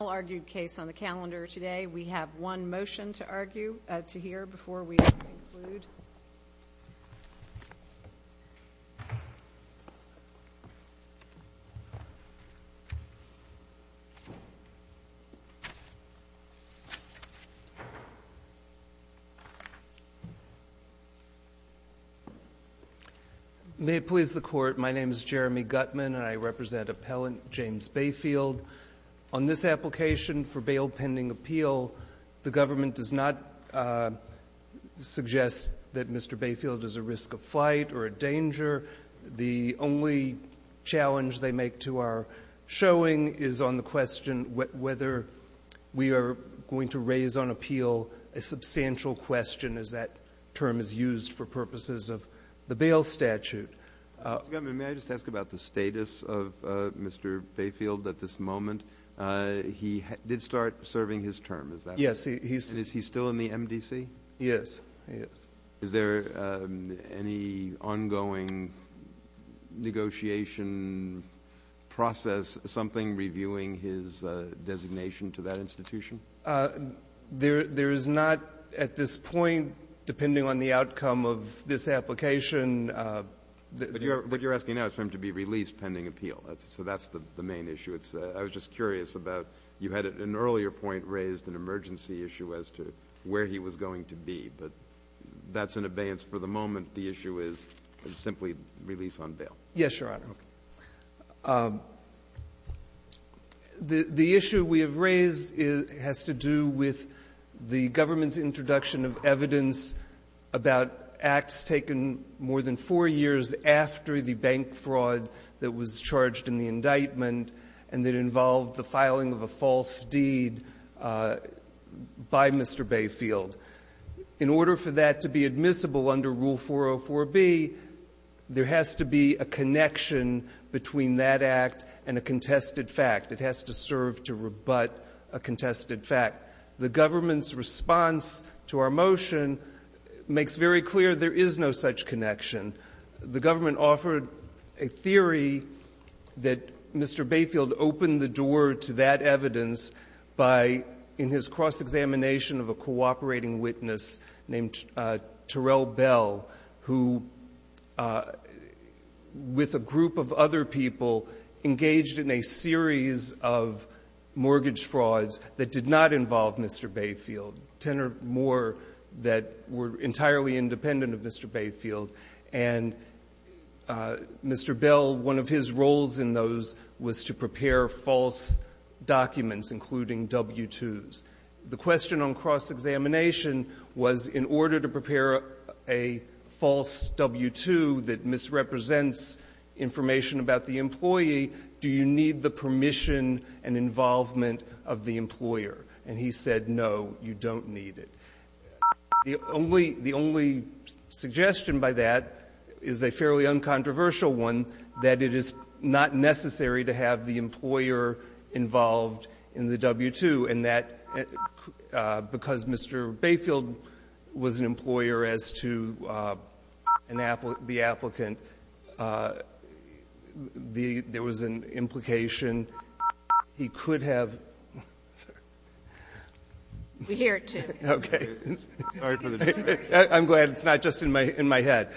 argued case on the calendar today we have one motion to argue at two here before we may please the court my name is jeremy gutman I represent appellant james bayfield on this application for bail pending appeal the government does not suggest that mr. bayfield is a risk of flight or a danger the only challenge they make to our showing is on the question whether we are going to raise on appeal a substantial question as that term is used for purposes of the bail statute may I just ask about the status of mr. bayfield at this moment he did start serving his term is that yes he's he's still in the mdc yes yes is there any ongoing negotiation process something reviewing his designation to that institution there there is not at this point depending on the outcome of this application what you're asking now is for him to be released pending appeal so that's the main issue it's I was just curious about you had an earlier point raised an emergency issue as to where he was going to be but that's an abeyance for the moment the issue is simply release on bail yes your honor the the issue we have raised is has to do with the government's introduction of evidence that the about acts taken more than four years after the bank fraud that was charged in the indictment and that involved the filing of a false deed by mr. bayfield in order for that to be admissible under rule 404 be there has to be a connection between that act and a contested fact it has to serve to rebut a contested fact the government's response to our motion makes very clear there is no such connection the government offered a theory that mr. bayfield opened the door to that evidence by in his cross examination of a cooperating witness named turelle bell who with a group of other people engaged in a series of mortgage frauds that did not involve mr. bayfield tenor more that were entirely independent of mr. bayfield and mr. bell one of his roles in those was to prepare false documents including w-two's the question on cross examination was in order to prepare a false w-two that misrepresents information about the employee do you need the permission and involvement of the employer and he said no you don't need it the only the only suggestion by that is a fairly uncontroversial one that it is not necessary to have the employer involved in the w-two and that because mr. bayfield was an employer as to an apple the applicant the there was an implication he could have here to okay I'm glad it's not just in my in my head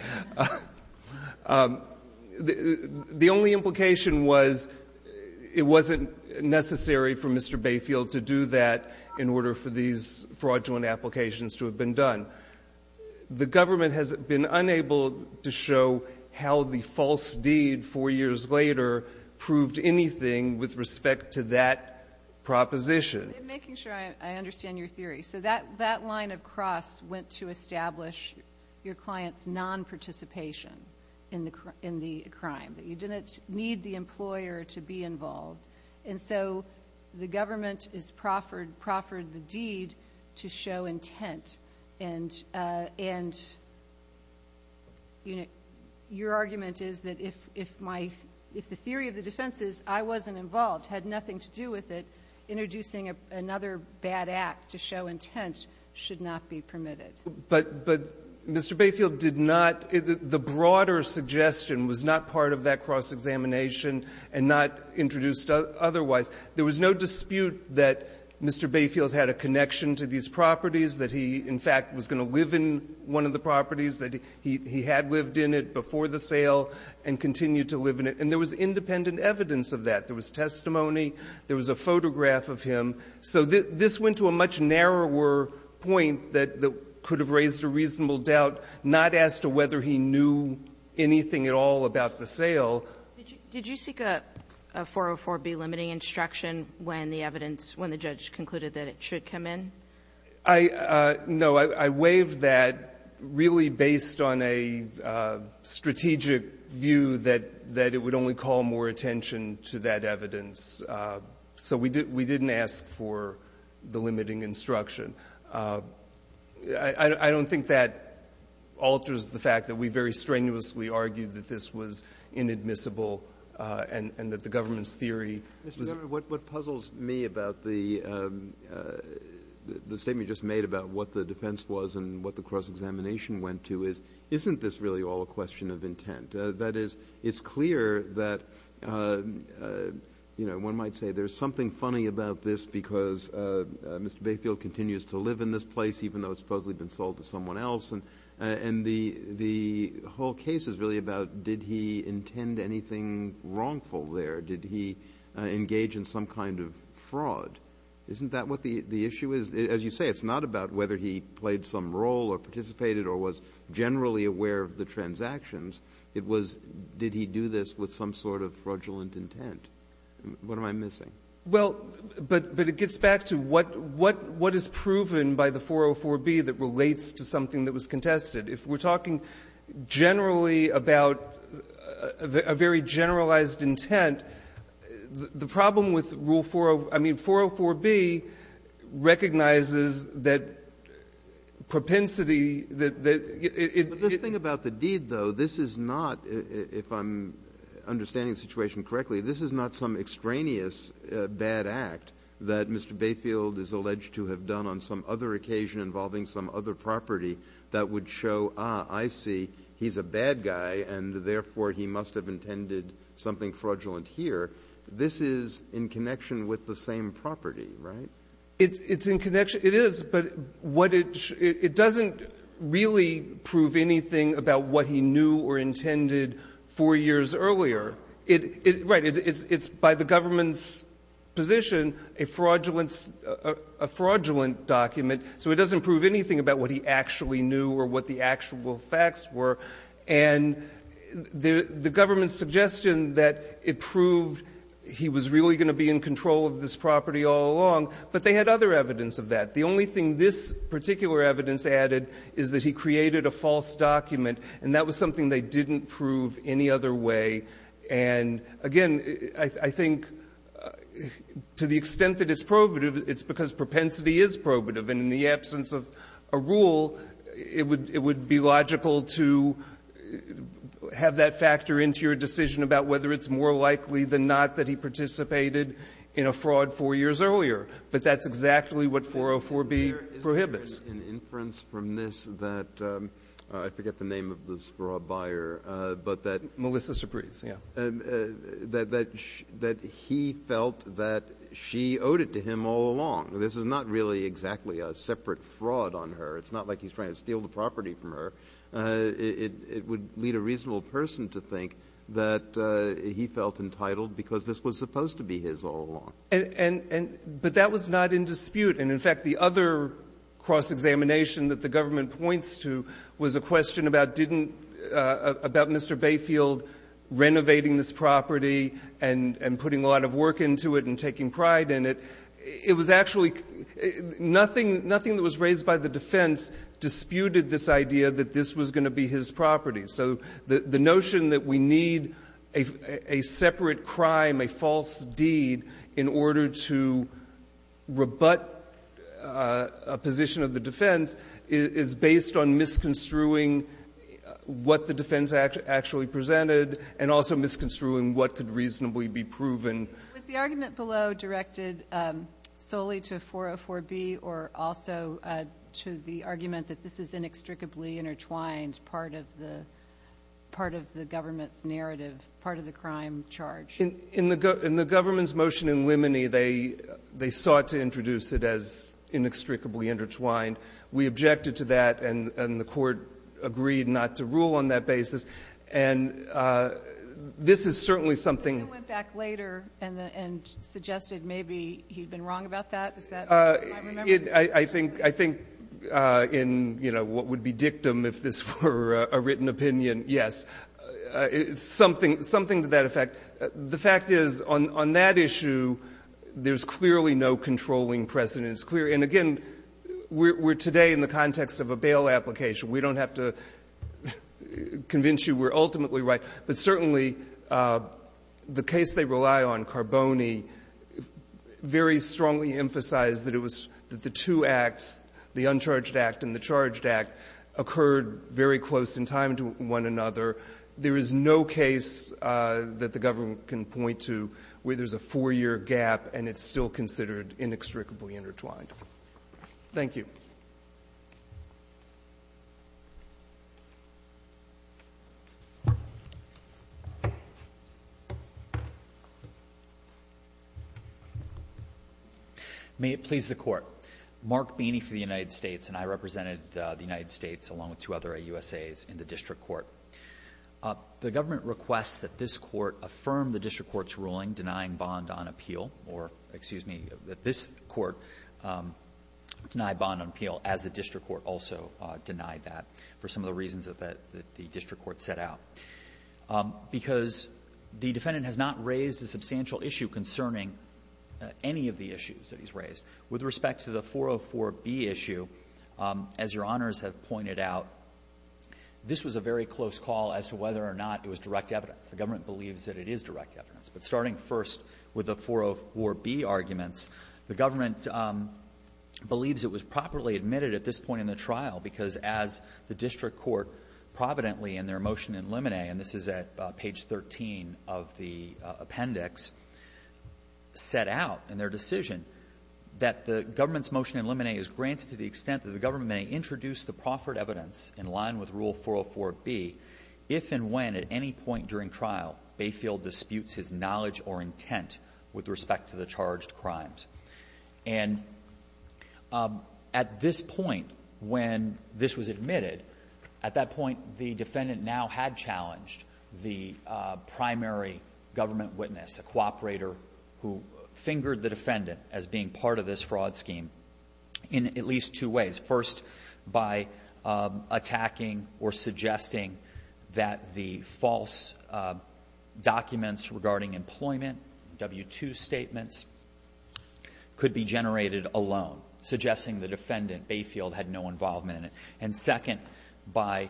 the only implication was it wasn't necessary for mr. bayfield to do that in order for these fraudulent applications to have been done the government has been unable to show how the false deed four years later proved anything with respect to that proposition making sure I understand your theory so that that line of cross went to establish your clients non-participation in the in the crime that you didn't need the employer to be involved and so the government is proffered proffered the deed to show intent and and your argument is that if if my if the theory of the defenses I wasn't involved had nothing to do with it introducing another bad act to show intent should not be permitted but but mr. bayfield did not the broader suggestion was not part of that cross-examination and not introduced otherwise there was no dispute that mr. bayfield had a connection to these properties that he in fact was going to live in one of the properties that he he had lived in it before the sale and continue to live in it and there was independent evidence of that there was testimony there was a photograph of him so that this went to a much narrower point that could have raised a reasonable doubt not as to whether he knew anything at all about the sale did you seek a 404-B limiting instruction when the evidence when the judge concluded that it should come in I know I waved that really based on a strategic view that that it would only call more attention to that evidence so we did we didn't ask for the limiting instruction I don't think that alters the fact that we very strenuously argued that this was inadmissible and that the government's theory what puzzles me about the the statement just made about what the defense was and what the cross-examination went to is isn't this really all a question of intent that is it's clear that you know one might say there's something funny about this because Mr. Bayfield continues to live in this place even though it's supposedly been sold to someone else and the whole case is really about did he intend anything wrongful there did he engage in some kind of fraud isn't that what the issue is as you say it's not about whether he played some role or participated or was generally aware of the transactions it was did he do this with some sort of fraudulent intent what am I missing well but but it gets back to what what what is proven by the 404b that relates to something that was contested if we're talking generally about a very generalized intent the problem with rule 404b recognizes that propensity that it this thing about the deed though this is not if I'm understanding the situation correctly this is not some extraneous bad act that Mr. Bayfield is alleged to have done on some other occasion involving some other property that would show I see he's a bad guy and therefore he must have intended something fraudulent here this is in connection with the same property right it's in connection it is but what it it doesn't really prove anything about what he knew or intended four years earlier it right it's it's by the government's position a fraudulence a fraudulent document so it doesn't prove anything about what he actually knew or what the actual facts were and the the government's suggestion that it proved he was really going to be in control of this property all along but they had other evidence of that the only thing this particular evidence added is that he created a false document and that was something they didn't prove any other way and again I think to the extent that it's probative it's because propensity is probative and in the absence of a rule it would it would be logical to have that factor into your decision about whether it's more likely than not that he participated in a fraud four years earlier but that's exactly what 404B prohibits is there an inference from this that I forget the name of this broad buyer but that Melissa Supreze yeah that that that he felt that she owed it to him all along this is not really exactly a separate fraud on her it's not like he's trying to steal the property from her it it would lead a reasonable person to think that he felt entitled because this was supposed to be his all along and and but that was not in dispute and in fact the other cross-examination that the government points to was a question about didn't about Mr. Bayfield renovating this property and and putting a lot of work into it and taking pride in it it was actually nothing nothing that was raised by the defense disputed this idea that this was going to be his property so the notion that we need a separate crime a false deed in order to rebut a position of the defense is based on misconstruing what the defense actually presented and also misconstruing what could reasonably be proven was the argument below directed solely to 404B or also to the argument that this is inextricably intertwined part of the part of the government's narrative part of the crime charge in the government's motion in limine they they sought to introduce it as inextricably intertwined we objected to that and and the court agreed not to rule on that basis and this is certainly something you went back later and and suggested maybe he'd been wrong about that is that I think I think in you know what would be dictum if this were a written opinion yes it's something something to that effect the fact is on on that issue there's clearly no controlling precedent it's clear and again we're today in the context of a bail application we don't have to convince you we're ultimately right but certainly the case they rely on Carboni very strongly emphasized that it was that the two acts the uncharged act and the charged act occurred very close in time to one another there is no case that the government can point to where there's a four-year gap and it's still considered inextricably intertwined thank you may it please the court Mark Beeney for the United States and I represented the United States along with two other USA's in the district court up the government requests that this court affirm the district court's ruling denying bond on appeal or excuse me that this court denied bond on appeal as the district court also denied that for some of the reasons that the district court set out because the defendant has not raised a substantial issue concerning any of the issues that he's raised with respect to the 404 B issue as your honors have pointed out this was a very close call as to whether or not it was direct evidence the government believes that it is direct evidence but starting first with the 404 B arguments the government believes it was properly admitted at this point in the trial because as the district court providently in their motion in limine and this is at page 13 of the appendix set out in their decision that the government's motion in limine is granted to the extent that the government may introduce the proffered evidence in limine with rule 404 B if and when at any point during trial Bayfield disputes his knowledge or intent with respect to the charged crimes and at this point when this was admitted at that point the defendant now had challenged the primary government witness a cooperator who fingered the defendant as being part of this fraud scheme in at least two ways first by attacking or suggesting that the false documents regarding employment W-2 statements could be generated alone suggesting the defendant Bayfield had no involvement in it and second by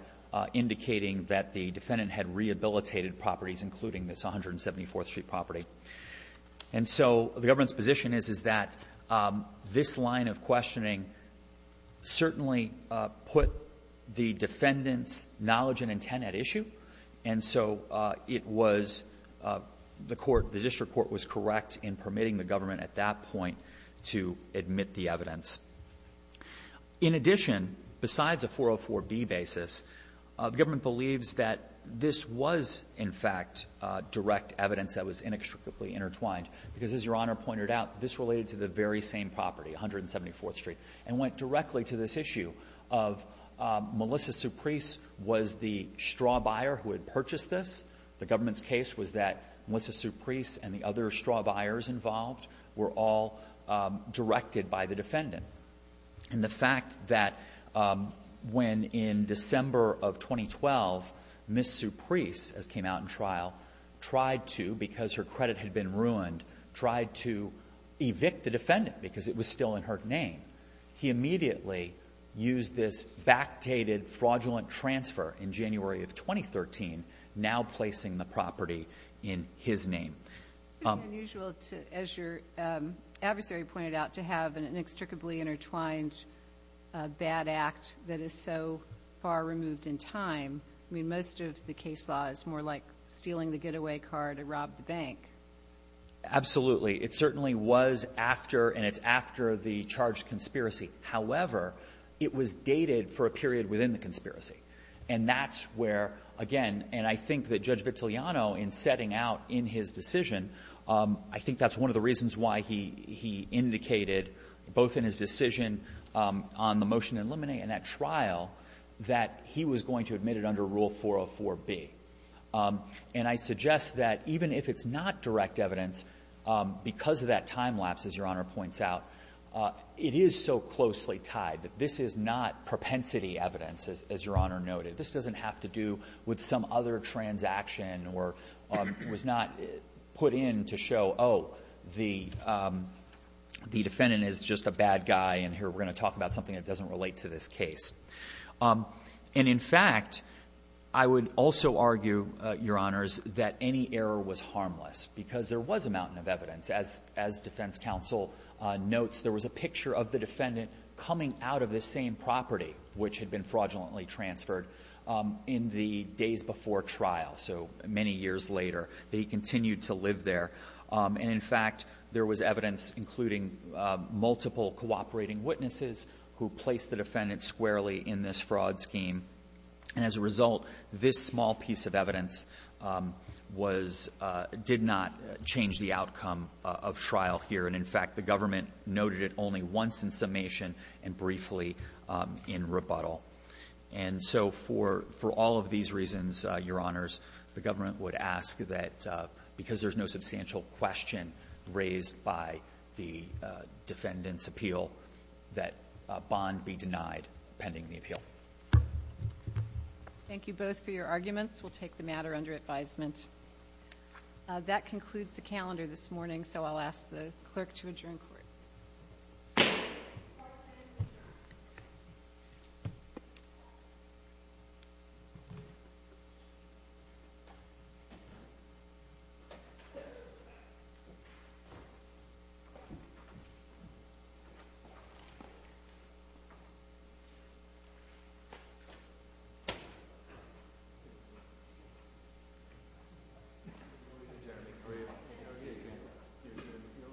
indicating that the defendant had rehabilitated properties including this 174th Street property and so the government's position is that this line of questioning certainly put the defendant's knowledge and intent at issue and so it was the court the district court was correct in permitting the government at that point to admit the evidence in addition besides a 404 B basis the government believes that this was in fact direct evidence that was inextricably intertwined because as your honor pointed out this related to the very same property 174th Street and went directly to this issue of Melissa Suprise was the straw buyer who had purchased this the government's case was that Melissa Suprise and the other straw buyers involved were all directed by the defendant and the fact that when in fact the government tried to evict the defendant because it was still in her name he immediately used this backdated fraudulent transfer in January of 2013 now placing the property in his name unusual to as your adversary pointed out to have an inextricably intertwined bad act that is so far removed in time I mean most of the was after and it's after the charged conspiracy however it was dated for a period within the conspiracy and that's where again and I think that Judge Vitiliano in setting out in his decision I think that's one of the reasons why he indicated both in his decision on the motion to eliminate and that trial that he was going to admit it under Rule 404B and I suggest that even if it's not direct evidence because of that time lapse as your honor points out it is so closely tied that this is not propensity evidence as your honor noted this doesn't have to do with some other transaction or was not put in to show oh the defendant is just a bad guy and here we're going to talk about something that doesn't relate to this case and in fact I would also argue your honors that any error was harmless because there was a mountain of evidence as as defense counsel notes there was a picture of the defendant coming out of the same property which had been fraudulently transferred in the days before trial so many years later that he continued to live there and in fact there was evidence including multiple cooperating witnesses who placed the defendant squarely in this fraud scheme and as a result this small piece of evidence was did not change the outcome of trial here and in fact the government noted it only once in summation and briefly in rebuttal and so for for all of these reasons your honors the government would ask that because there's no substantial question raised by the defendant's appeal that bond be denied pending the appeal. Thank you both for your arguments we'll take the matter under advisement. That concludes the calendar this morning so I'll ask the clerk to adjourn court. Thank you. Thank you.